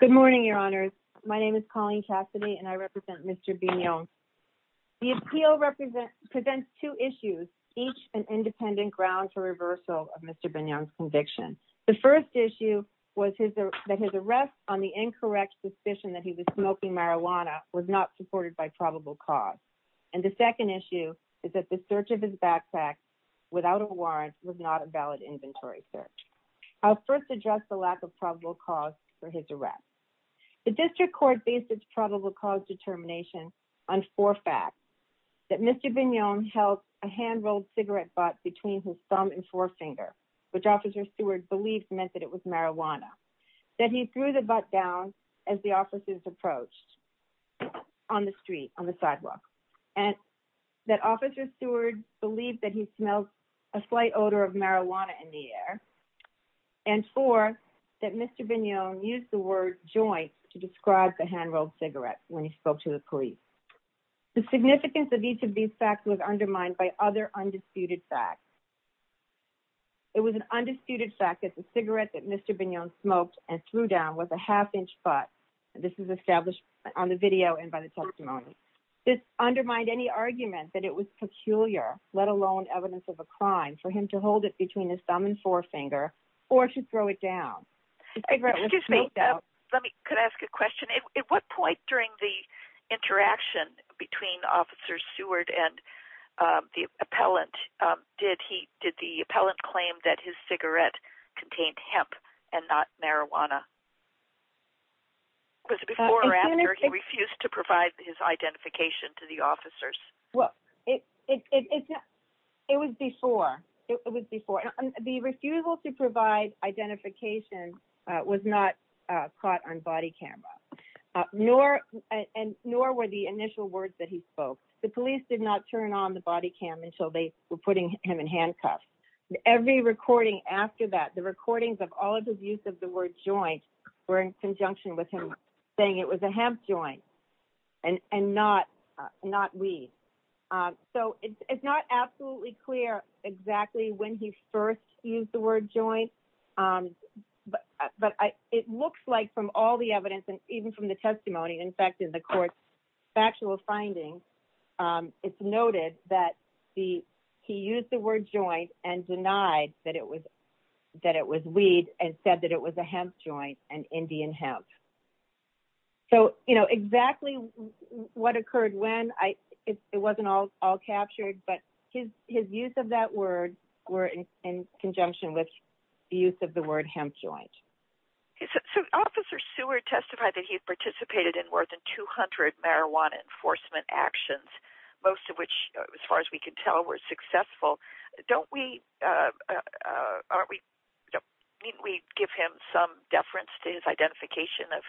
Good morning, Your Honors. My name is Colleen Cassidy and I represent Mr. Bignon. The appeal presents two issues, each an independent ground for reversal of Mr. Bignon's conviction. The first issue was that his arrest on the incorrect suspicion that he was smoking marijuana was not supported by probable cause. And the second issue is that the search of his backpack without a warrant was not a valid inventory search. I'll first address the lack of probable cause for his arrest. The district court based its probable cause determination on four facts, that Mr. Bignon held a hand-rolled cigarette butt between his thumb and forefinger, which officer Stewart believed meant that it was marijuana, that he threw the butt down as the officers approached on the street, on the sidewalk, and that officer Stewart believed that he smelled a slight odor of marijuana in the air, and four, that Mr. Bignon used the word joint to describe the hand-rolled cigarette when he spoke to the police. The significance of each of these facts was undermined by other undisputed facts. It was an undisputed fact that the cigarette that Mr. Bignon smoked and threw down was a half-inch butt. This is established on the video and by the testimony. This undermined any argument that it was peculiar, let alone evidence of a crime, for him to hold it between his thumb and forefinger or to throw it down. Excuse me, let me, could I ask a question? At what point during the interaction between officer Stewart and the appellant did he, did the appellant claim that his cigarette contained hemp and not marijuana? Was it before or after he refused to provide his identification to the officers? Well, it was before. It was before. The refusal to provide identification was not caught on video. The police did not turn on the body cam until they were putting him in handcuffs. Every recording after that, the recordings of all of his use of the word joint were in conjunction with him saying it was a hemp joint and not weed. So it's not absolutely clear exactly when he first used the word joint, but it looks like from all the evidence and even from the testimony, in fact, in the court's factual findings, it's noted that the, he used the word joint and denied that it was, that it was weed and said that it was a hemp joint and Indian hemp. So, you know, exactly what occurred when I, it wasn't all, all captured, but his, his use of that word were in conjunction with the use of the word hemp joint. So, Officer Seward testified that he had participated in more than 200 marijuana enforcement actions, most of which, as far as we can tell, were successful. Don't we, aren't we, don't we give him some deference to his identification of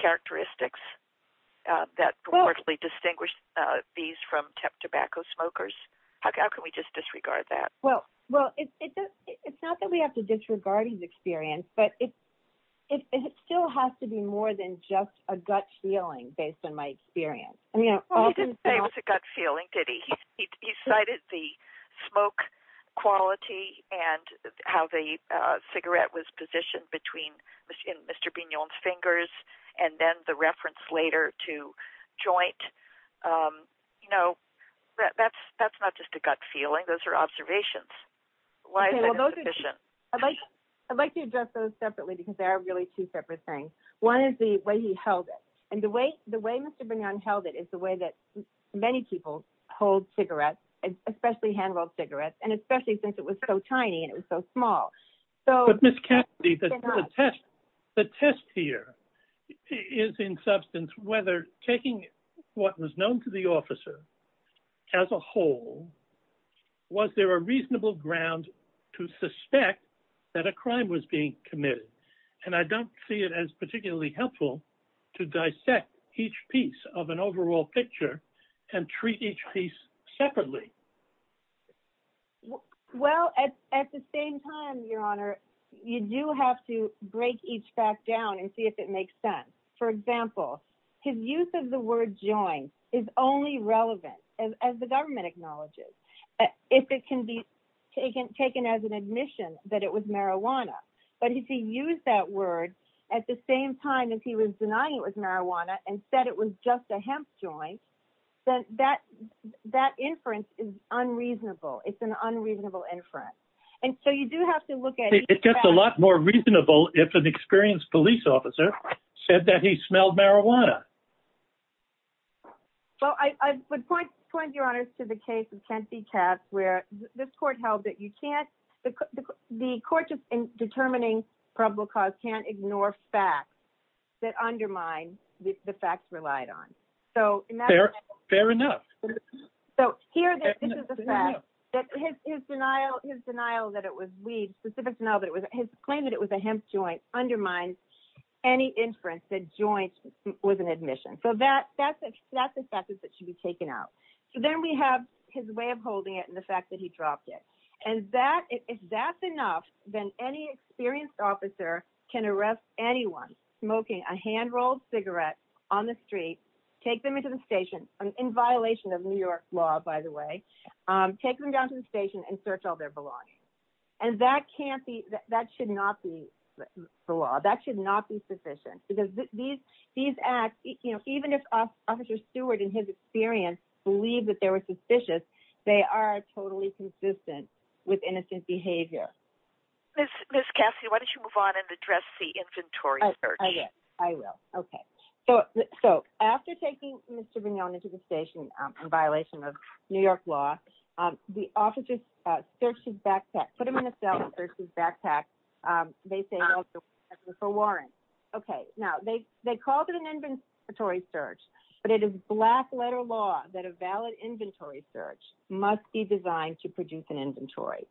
characteristics that reportedly distinguished these from temp tobacco smokers? How can we just disregard that? Well, well, it's not that we have to disregard his experience, but it, it still has to be more than just a gut feeling based on my experience. I mean, He didn't say it was a gut feeling, did he? He cited the smoke quality and how the cigarette was positioned between Mr. Bignon's fingers and then the reference later to joint. You can't just disregard those for observations. Why is that insufficient? I'd like to address those separately because they are really two separate things. One is the way he held it. And the way, the way Mr. Bignon held it is the way that many people hold cigarettes, especially hand-held cigarettes, and especially since it was so tiny and it was so small. But Ms. Cassidy, the test, the test here is in substance, whether taking what was known to the officer as a whole, was there a reasonable ground to suspect that a crime was being committed? And I don't see it as particularly helpful to dissect each piece of an overall picture and treat each piece separately. Well, at, at the same time, Your Honor, you do have to break each fact down and see if it makes sense. For example, his use of the word joint is only relevant as, as the government acknowledges. If it can be taken, taken as an admission that it was marijuana. But if he used that word at the same time as he was denying it was marijuana and said it was just a hemp joint, then that, that inference is unreasonable. It's an unreasonable inference. And so you do have to look at- But it would be more reasonable if an experienced police officer said that he smelled marijuana. Well, I would point, point, Your Honor, to the case of Kent v. Katz, where this court held that you can't, the court just in determining probable cause can't ignore facts that undermine the facts relied on. So in that- Fair, fair enough. So here, this is the fact that his, his denial, his denial that it was weed, specific denial that it was, his claim that it was a hemp joint undermines any inference that joint was an admission. So that, that's a, that's a fact that should be taken out. So then we have his way of holding it and the fact that he dropped it. And that, if that's enough, then any experienced officer can arrest anyone smoking a hand-rolled cigarette on the street, take them into the station, in violation of New York law, by the way, take them down to the station and search all their belongings. And that can't be, that should not be the law. That should not be sufficient because these, these acts, you know, even if officer Stewart and his experience believe that there was suspicious, they are totally consistent with innocent behavior. Ms. Cassie, why don't you move on and address the inventory search? I will. Okay. So, so after taking Mr. Brignone into the station in violation of New York law, the officers searched his backpack, put him in a cell and searched his backpack. They say, for warrants. Okay. Now they, they called it an inventory search, but it is black letter law that a valid inventory search must be designed to produce an inventory.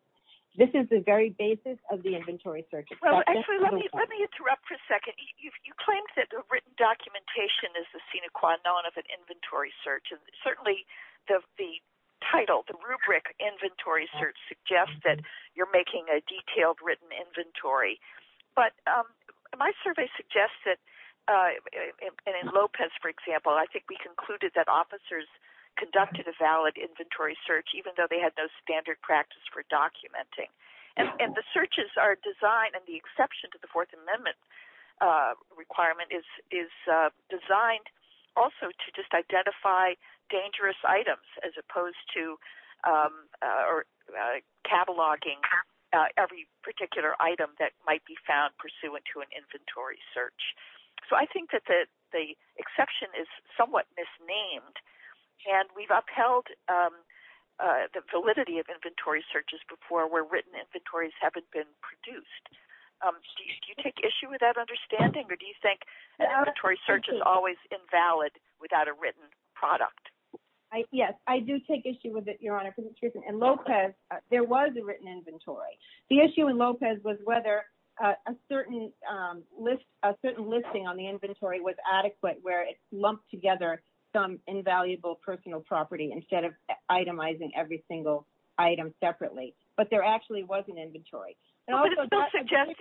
This is the very basis of the inventory search. Well, actually, let me, let me interrupt for a second. You claimed that the written documentation is the sine qua non of an inventory search. And certainly the, the title, the rubric inventory search suggests that you're making a detailed written inventory. But my survey suggests that in Lopez, for example, I think we concluded that officers conducted a valid inventory search, even though they had those standard practice for documenting. And the searches are designed and the exception to the fourth amendment requirement is, is designed also to just identify dangerous items as opposed to or cataloging every particular item that might be found pursuant to an inventory search. So I think that the, the exception is somewhat misnamed and we've upheld the validity of inventory searches before where written inventories haven't been produced. Do you take issue with that understanding? Or do you think an inventory search is always invalid without a written product? Yes, I do take issue with it, Your Honor. And Lopez, there was a written inventory. The issue in Lopez was whether a certain list, a certain listing on the inventory was adequate where it's lumped together some invaluable personal property instead of itemizing every item in an inventory. But it still suggests,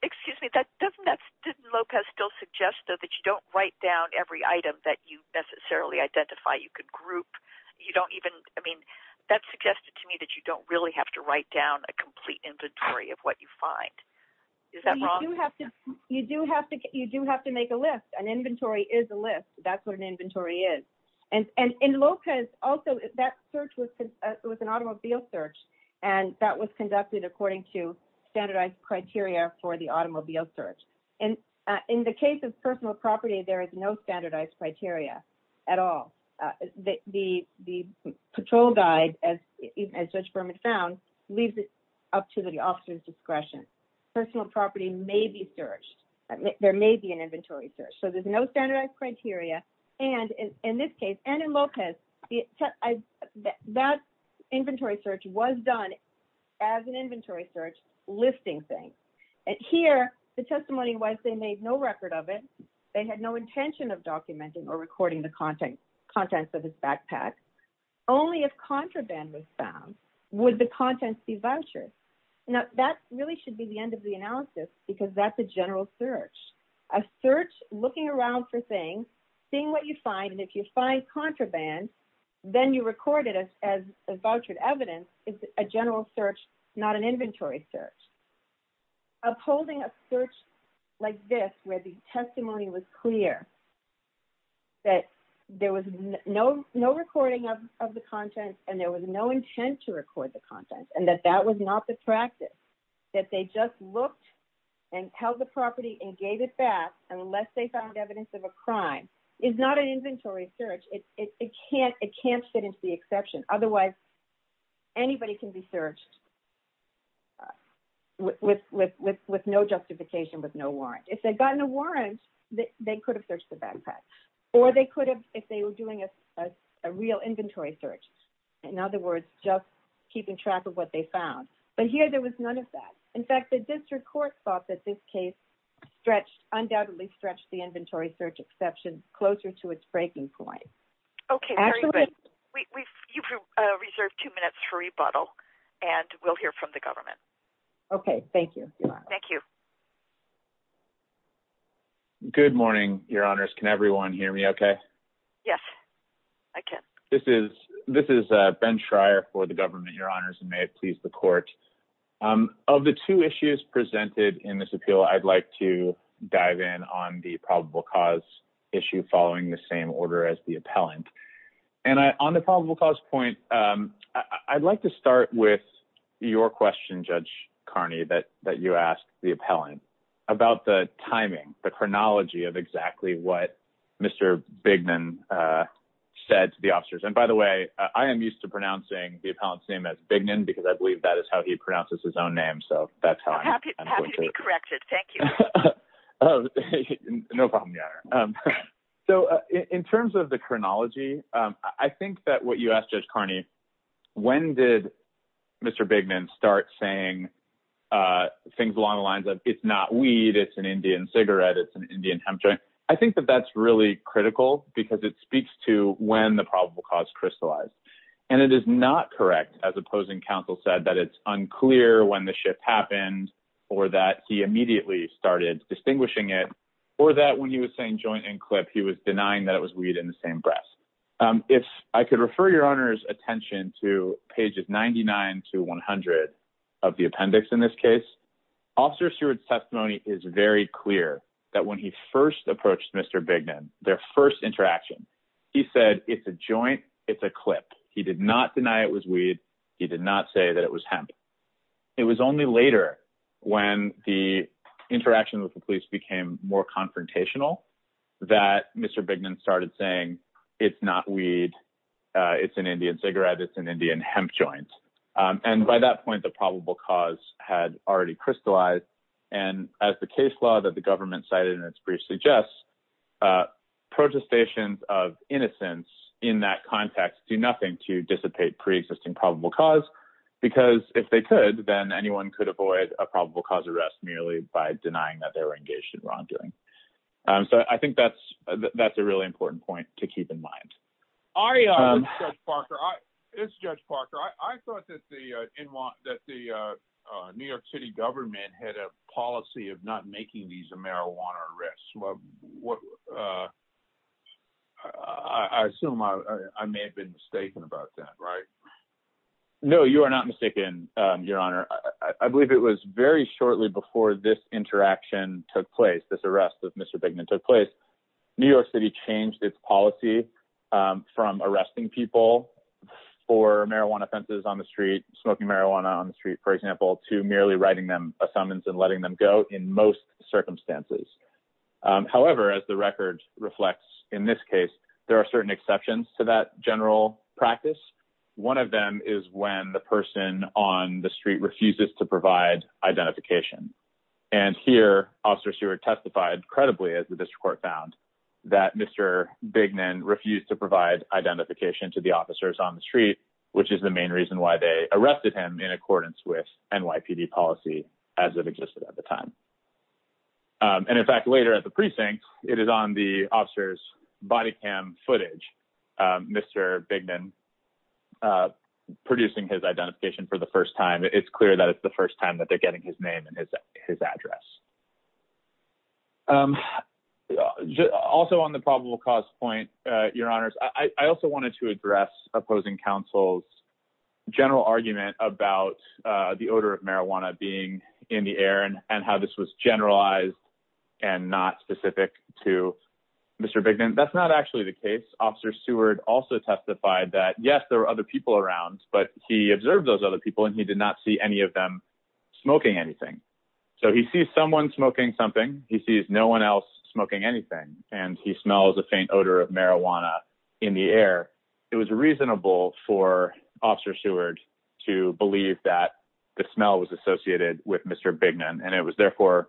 excuse me, that doesn't, didn't Lopez still suggest though that you don't write down every item that you necessarily identify. You could group, you don't even, I mean, that suggested to me that you don't really have to write down a complete inventory of what you find. Is that wrong? You do have to, you do have to, you do have to make a list. An inventory is a list. That's what an inventory is. And, and in Lopez also, that search was, was an automobile search and that was conducted according to standardized criteria for the automobile search. And in the case of personal property, there is no standardized criteria at all. The, the, the patrol guide, as Judge Berman found, leaves it up to the officer's discretion. Personal property may be searched. There may be an inventory search. So there's no standardized criteria. And in this case, and in Lopez, that inventory search was done as an inventory search, listing things. And here the testimony was they made no record of it. They had no intention of documenting or recording the content, contents of his backpack. Only if contraband was found, would the contents be vouchers. Now that really should be the end of the analysis because that's a general search. A search, looking around for things, seeing what you find, and if you find contraband, then you record it as, as vouchered evidence. It's a general search, not an inventory search. Upholding a search like this, where the testimony was clear, that there was no, no recording of, of the content and there was no intent to record the content and that that was not the practice. That they just looked and held the property and gave it back unless they found evidence of a crime is not an inventory search. It can't, it can't fit into the exception. Otherwise, anybody can be searched with, with, with, with no justification, with no warrant. If they'd gotten a warrant, they could have searched the backpack or they could have, if they were doing a real inventory search. In other words, just keeping track of what they found. But here there was none of that. In fact, the district court thought that this case stretched, undoubtedly stretched the inventory search exception closer to its breaking point. Okay, very good. We, we've, you've reserved two minutes for rebuttal and we'll hear from the government. Okay, thank you. Thank you. Good morning, your honors. Can everyone hear me okay? Yes, I can. This is, this is Ben Schrier for the government, your honors, and may it please the court. Of the two issues presented in this appeal, I'd like to dive in on the probable cause issue following the same order as the appellant. And I, on the probable cause point, I'd like to start with your question, Judge Carney, that, that you asked the appellant about the timing, the chronology of exactly what Mr. Bignan said to the officers. And by the way, I am used to pronouncing the his own name, so that's how I'm happy to be corrected. Thank you. No problem, your honor. So in terms of the chronology, I think that what you asked Judge Carney, when did Mr. Bignan start saying things along the lines of, it's not weed, it's an Indian cigarette, it's an Indian hemp joint. I think that that's really critical because it speaks to when the probable cause crystallized. And it is not correct as opposing counsel said that it's clear when the shift happened or that he immediately started distinguishing it, or that when he was saying joint and clip, he was denying that it was weed in the same breath. If I could refer your honor's attention to pages 99 to 100 of the appendix in this case, officer Seward's testimony is very clear that when he first approached Mr. Bignan, their first interaction, he said, it's a joint, it's a clip. He did not deny it was weed. He did not say that was hemp. It was only later when the interaction with the police became more confrontational that Mr. Bignan started saying, it's not weed, it's an Indian cigarette, it's an Indian hemp joint. And by that point, the probable cause had already crystallized. And as the case law that the government cited in its brief suggests, protestations of innocence in that context do pre-existing probable cause, because if they could, then anyone could avoid a probable cause arrest merely by denying that they were engaged in wrongdoing. So I think that's a really important point to keep in mind. Judge Parker, I thought that the New York City government had a policy of not making these a marijuana arrest. I assume I may have been mistaken about that, right? No, you are not mistaken, your honor. I believe it was very shortly before this interaction took place, this arrest of Mr. Bignan took place. New York City changed its policy from arresting people for marijuana offenses on the street, smoking marijuana on the street, for example, to merely writing them a summons and letting them go in most circumstances. However, as the record reflects, in this case, there are certain exceptions to that general practice. One of them is when the person on the street refuses to provide identification. And here, Officer Seward testified credibly as the district court found that Mr. Bignan refused to provide identification to the officers on the street, which is the main reason why they arrested him in accordance with NYPD policy as it existed at the time. And in fact, later at the precinct, it is on the officer's body cam footage, Mr. Bignan producing his identification for the first time. It's clear that it's the first time that they're getting his name and his address. Also on the probable cause point, your honors, I also wanted to address opposing counsel's argument about the odor of marijuana being in the air and how this was generalized and not specific to Mr. Bignan. That's not actually the case. Officer Seward also testified that yes, there were other people around, but he observed those other people and he did not see any of them smoking anything. So he sees someone smoking something. He sees no one else smoking anything and he smells a faint odor of marijuana in the air. It was reasonable for Officer Seward to believe that the smell was associated with Mr. Bignan and it was therefore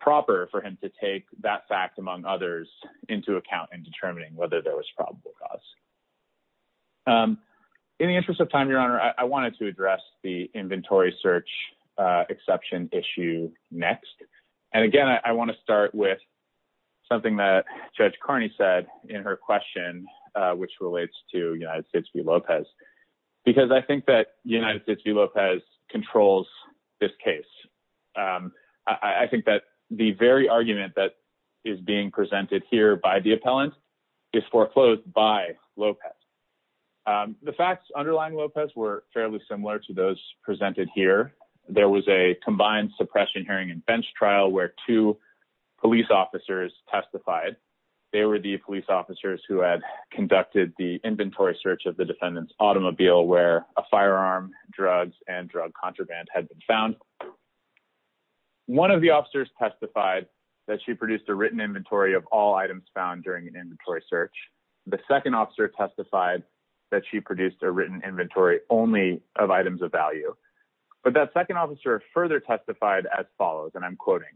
proper for him to take that fact among others into account in determining whether there was probable cause. In the interest of time, your honor, I wanted to address the inventory search exception issue next. And again, I want to start with something that Judge Carney said in her question, which relates to United States v. Lopez, because I think that United States v. Lopez controls this case. I think that the very argument that is being presented here by the appellant is foreclosed by Lopez. The facts underlying Lopez were fairly similar to those of the defendant. There was a combined suppression hearing and bench trial where two police officers testified. They were the police officers who had conducted the inventory search of the defendant's automobile where a firearm, drugs, and drug contraband had been found. One of the officers testified that she produced a written inventory of all items found during an inventory search. The second officer testified that she produced a written inventory only of items of value. But that second officer further testified as follows, and I'm quoting,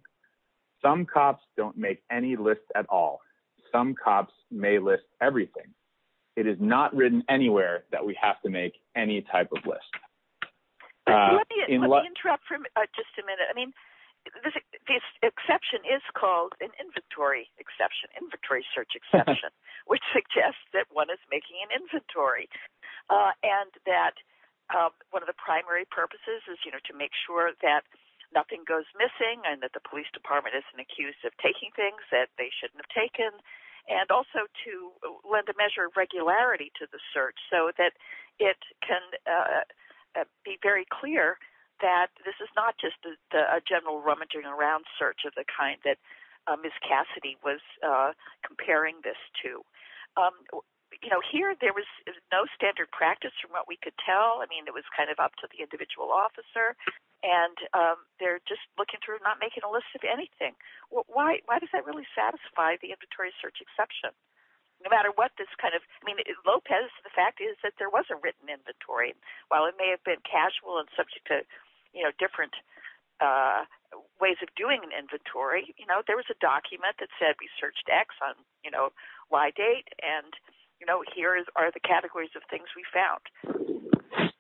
some cops don't make any lists at all. Some cops may list everything. It is not written anywhere that we have to make any type of list. Let me interrupt for just a minute. I mean, this exception is called an inventory exception, inventory search exception, which suggests that one is making an inventory and that one of the primary purposes is to make sure that nothing goes missing and that the police department isn't accused of taking things that they shouldn't have taken and also to lend a measure of regularity to the search so that it can be very clear that this is not just a general rummaging around search of the kind that Cassidy was comparing this to. Here, there was no standard practice from what we could tell. I mean, it was kind of up to the individual officer, and they're just looking to not make it a list of anything. Why does that really satisfy the inventory search exception? No matter what this kind of, I mean, Lopez, the fact is that there was a written inventory. While it may have been casual and subject to different ways of doing an inventory, there was a document that said we searched X on Y date, and here are the categories of things we found.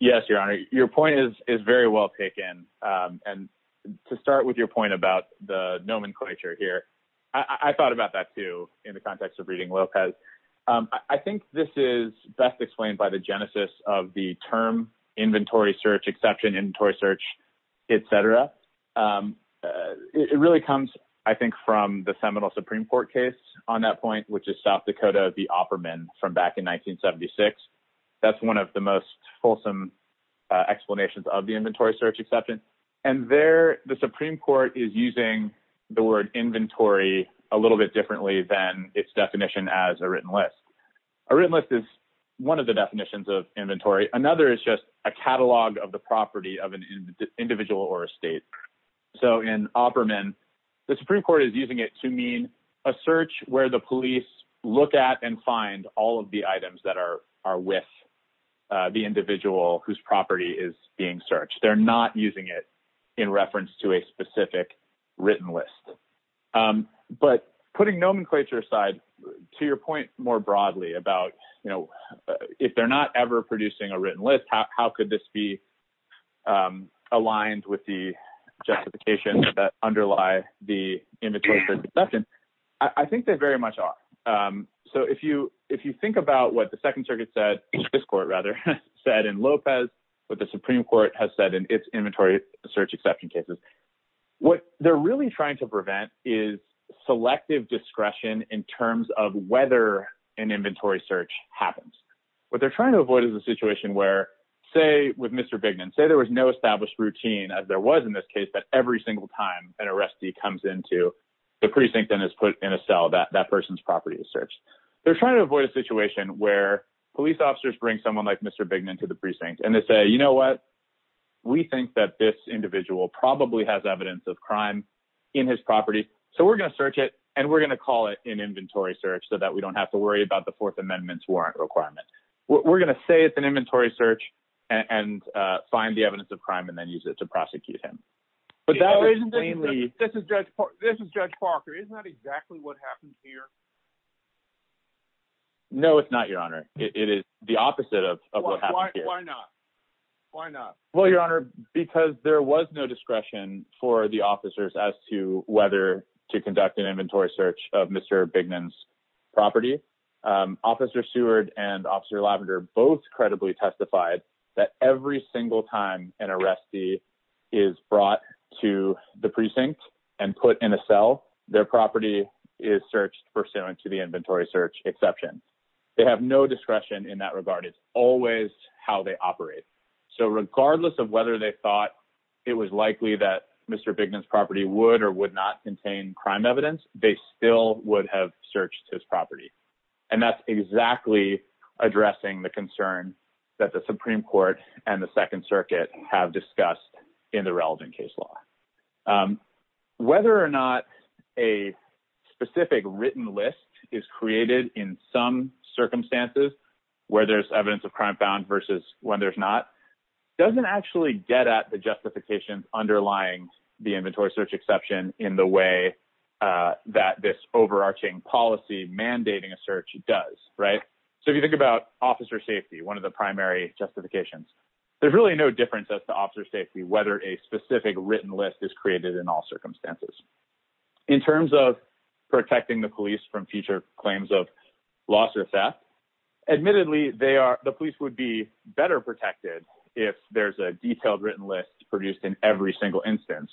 Yes, Your Honor. Your point is very well taken. To start with your point about the nomenclature here, I thought about that too in the context of reading Lopez. I think this is best explained by the genesis of the term inventory search exception, inventory search, et cetera. It really comes, I think, from the Seminole Supreme Court case on that point, which is South Dakota, the Opperman from back in 1976. That's one of the most fulsome explanations of the inventory search exception. There, the Supreme Court is using the word inventory a little bit differently than its definition as a written list. A written list is one of the individual or a state. In Opperman, the Supreme Court is using it to mean a search where the police look at and find all of the items that are with the individual whose property is being searched. They're not using it in reference to a specific written list. Putting nomenclature aside, to your point more broadly about if they're not ever producing a written list, how could this be aligned with the justification that underlie the inventory search exception? I think they very much are. If you think about what the Second Circuit said, this court rather, said in Lopez, what the Supreme Court has said in its inventory search exception cases, what they're really trying to prevent is selective discretion in terms of whether an inventory search happens. What they're trying to avoid is a situation where, say with Mr. Bignan, say there was no established routine as there was in this case, that every single time an arrestee comes into the precinct and is put in a cell, that that person's property is searched. They're trying to avoid a situation where police officers bring someone like Mr. Bignan to the precinct and they say, you know what, we think that this individual probably has evidence of crime in his property, so we're going to search it and we're going to call it an inventory search so that we don't have to worry about the Fourth Amendment's warrant requirement. We're going to say it's an inventory search and find the evidence of crime and then use it to prosecute him. But that was plainly... This is Judge Parker. Isn't that exactly what happened here? No, it's not, Your Honor. It is the opposite of what happened here. Why not? Why not? Well, Your Honor, because there was no discretion for the officers as to whether to conduct an inventory search of Mr. Bignan's property. Officer Seward and Officer Lavender both credibly testified that every single time an arrestee is brought to the precinct and put in a cell, their property is searched pursuant to the inventory search exception. They have no discretion in that regard. It's always how they operate. So regardless of whether they thought it was likely that Mr. Bignan's property would or would not contain crime evidence, they still would have searched his property. And that's exactly addressing the concern that the Supreme Court and the Second Circuit have discussed in the relevant case law. Whether or not a specific written list is created in some circumstances where there's evidence of crime found versus when there's not doesn't actually get at the justifications underlying the inventory search exception in the way that this overarching policy mandating a search does, right? So if you think about officer safety, one of the primary justifications, there's really no difference as to officer safety whether a specific written list is created in all circumstances. In terms of protecting the police from future claims of loss or theft, admittedly the police would be better protected if there's a detailed written list produced in every single instance.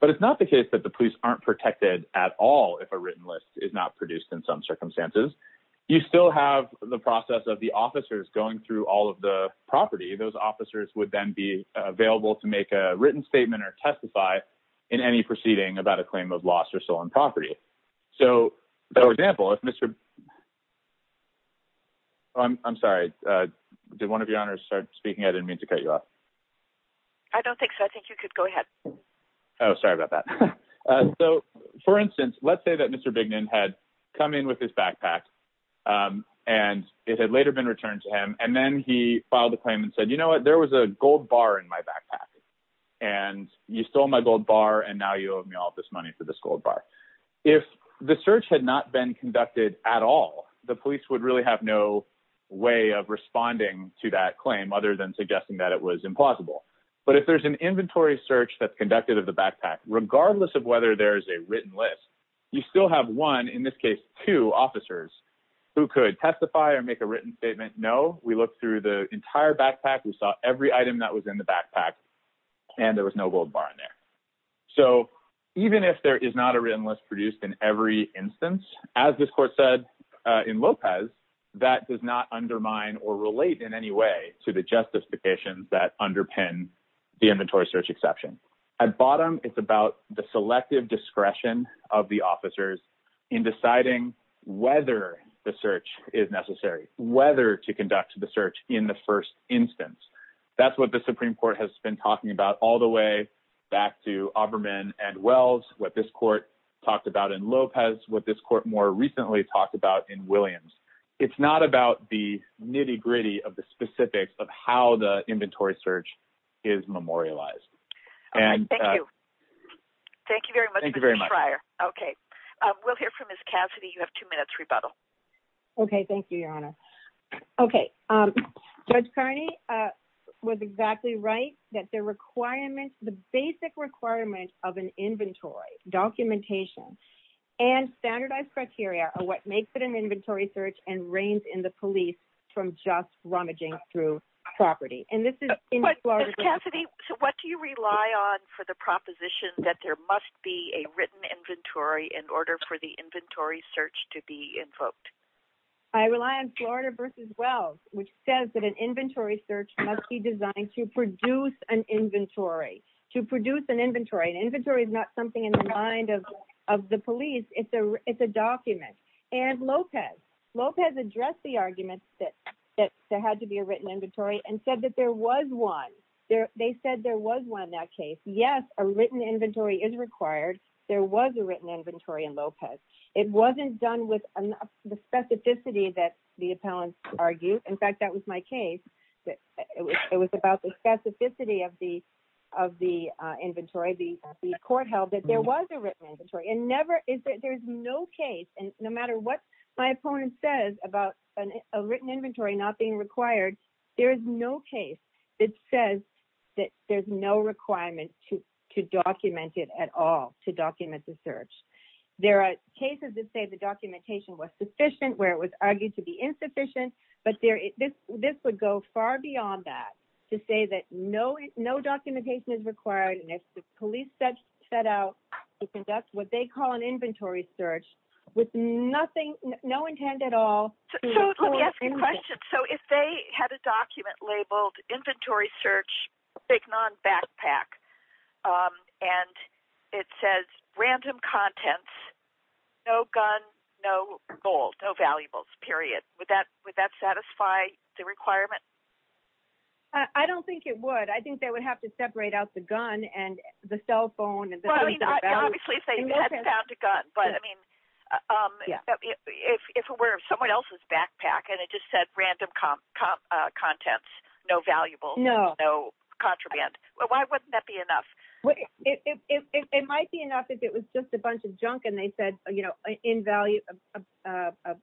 But it's not the case that the police aren't protected at all if a written list is not produced in some circumstances. You still have the process of the officers going through all of the property. Those officers would then be available to make a written statement or testify in any proceeding about a claim of loss or stolen property. So for example, if Mr. I'm sorry, did one of your honors start speaking? I didn't mean to cut you off. I don't think so. I think you could go ahead. Oh, sorry about that. So for instance, let's say that Mr. Bignan had come in with his backpack and it had later been returned to him and then he filed a claim and said, you know what? There was a gold bar in my backpack and you stole my gold bar and now you owe me all this money for this gold bar. If the search had not been conducted at all, the police would really have no way of responding to that claim other than suggesting that it was implausible. But if there's an inventory search that's conducted of the backpack, regardless of whether there is a written list, you still have one, in this case two officers who could testify or make a written statement. No, we looked through the entire backpack. We saw every item that was in the backpack and there was no gold bar in there. So even if there is not a written list produced in every instance, as this court said in Lopez, that does not undermine or relate in any way to the justifications that underpin the inventory search exception. At bottom, it's about the selective discretion of the officers in deciding whether the search is necessary, whether to conduct the search in the first instance. That's what the Supreme Court has been talking about all the way back to Auberman and Wells, what this court talked about in Lopez, what this court more recently talked about in Williams. It's not about the nitty-gritty of the specifics of how the inventory search is memorialized. Thank you. Thank you very much. Okay, we'll hear from Ms. Cassidy. You have two minutes rebuttal. Okay, thank you, Your Honor. Okay, Judge Kearney was exactly right that the requirements, the basic requirement of an inventory documentation and standardized criteria are what makes it an inventory search and reigns in the police from just rummaging through property. Ms. Cassidy, what do you rely on for the proposition that there must be a written inventory in order for inventory search to be invoked? I rely on Florida v. Wells, which says that an inventory search must be designed to produce an inventory. To produce an inventory. An inventory is not something in the mind of the police. It's a document. And Lopez, Lopez addressed the argument that there had to be a written inventory and said that there was one. They said there was one in case. Yes, a written inventory is required. There was a written inventory in Lopez. It wasn't done with the specificity that the appellants argued. In fact, that was my case. It was about the specificity of the of the inventory, the court held that there was a written inventory and never is that there's no case. And no matter what my opponent says about a written inventory not being documented at all to document the search. There are cases that say the documentation was sufficient where it was argued to be insufficient. But this would go far beyond that to say that no documentation is required. And if the police set out to conduct what they call an inventory search with nothing, no intent at all. So let me ask you a question. So if they had a document labeled inventory search, big non backpack, and it says random contents, no gun, no gold, no valuables, period, would that would that satisfy the requirement? I don't think it would, I think they would have to separate out the gun and the cell phone. And obviously, if they had found a gun, but I mean, if it were someone else's backpack, and it just said random contents, no valuable, no, no contraband, why wouldn't that be enough? It might be enough if it was just a bunch of junk. And they said, you know, in value of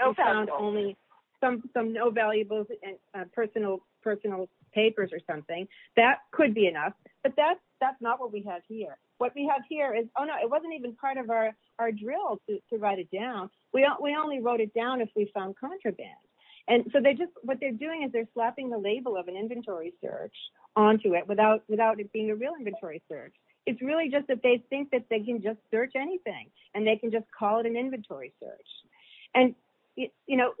only some some no valuables and personal personal papers or something that could be enough. But that's, that's not what we have here. What we have here is Oh, no, it wasn't even part of our our drill to write it down. We only wrote it down if we found contraband. And so they just what they're doing is they're slapping the label of an inventory search onto it without without it being a real inventory search. It's really just that they think that they can just search anything, and they can just call it an inventory search. And, you know,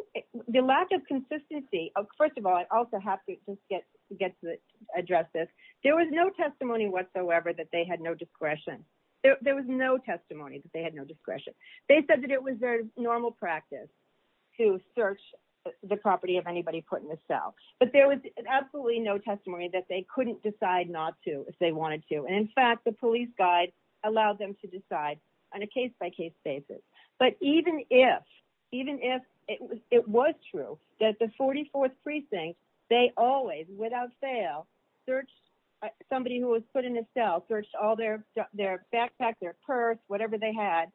the lack of consistency, first of all, I also have to just get get to address this. There was no testimony whatsoever that they had no discretion. There was no testimony that they had no discretion. They said it was their normal practice to search the property of anybody put in the cell. But there was absolutely no testimony that they couldn't decide not to if they wanted to. And in fact, the police guide allowed them to decide on a case by case basis. But even if even if it was it was true that the 44th precinct, they always without fail, search, somebody who was put in a cell all their, their backpack, their purse, whatever they had.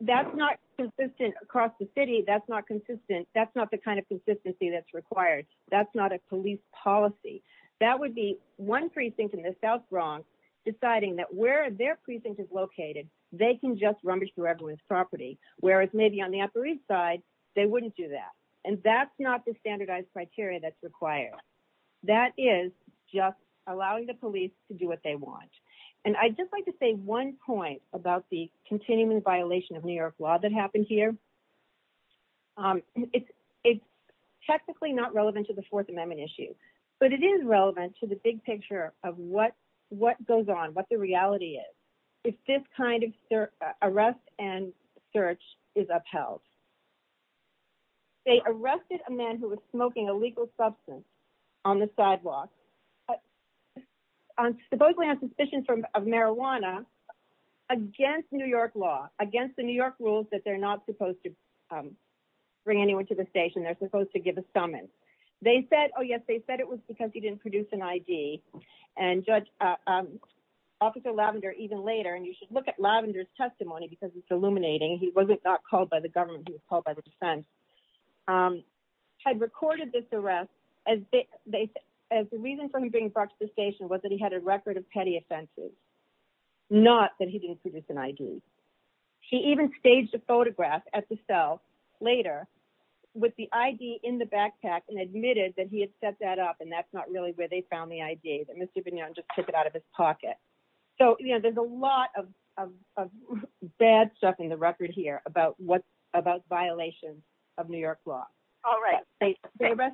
That's not consistent across the city. That's not consistent. That's not the kind of consistency that's required. That's not a police policy. That would be one precinct in the South Bronx, deciding that where their precinct is located, they can just rummage through everyone's property, whereas maybe on the Upper East Side, they wouldn't do that. And that's not the standardized criteria that's required. That is just allowing the police to do what they want. And I just like to say one point about the continuing violation of New York law that happened here. It's technically not relevant to the Fourth Amendment issue, but it is relevant to the big picture of what what goes on what the reality is, if this kind of arrest and search is upheld. They arrested a man who was smoking a legal substance on the sidewalk. Supposedly on suspicion of marijuana against New York law, against the New York rules that they're not supposed to bring anyone to the station, they're supposed to give a summons. They said, oh, yes, they said it was because he didn't produce an ID. And Judge Officer Lavender even later, and you should look at Lavender's testimony because it's illuminating. He wasn't called by the government, he was called by the defense, had recorded this arrest. The reason for him being brought to the station was that he had a record of petty offenses, not that he didn't produce an ID. He even staged a photograph at the cell later with the ID in the backpack and admitted that he had set that up and that's not really where they found the ID, that Mr. Bignone just took it out of his pocket. So there's a lot of bad stuff in the record here about violations of New York law. All right. Thank you very much.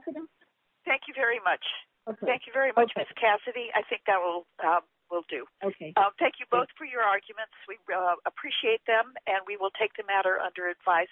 Thank you very much, Ms. Cassidy. I think that will do. Okay. Thank you both for your arguments. We appreciate them and we will take the matter under advisement.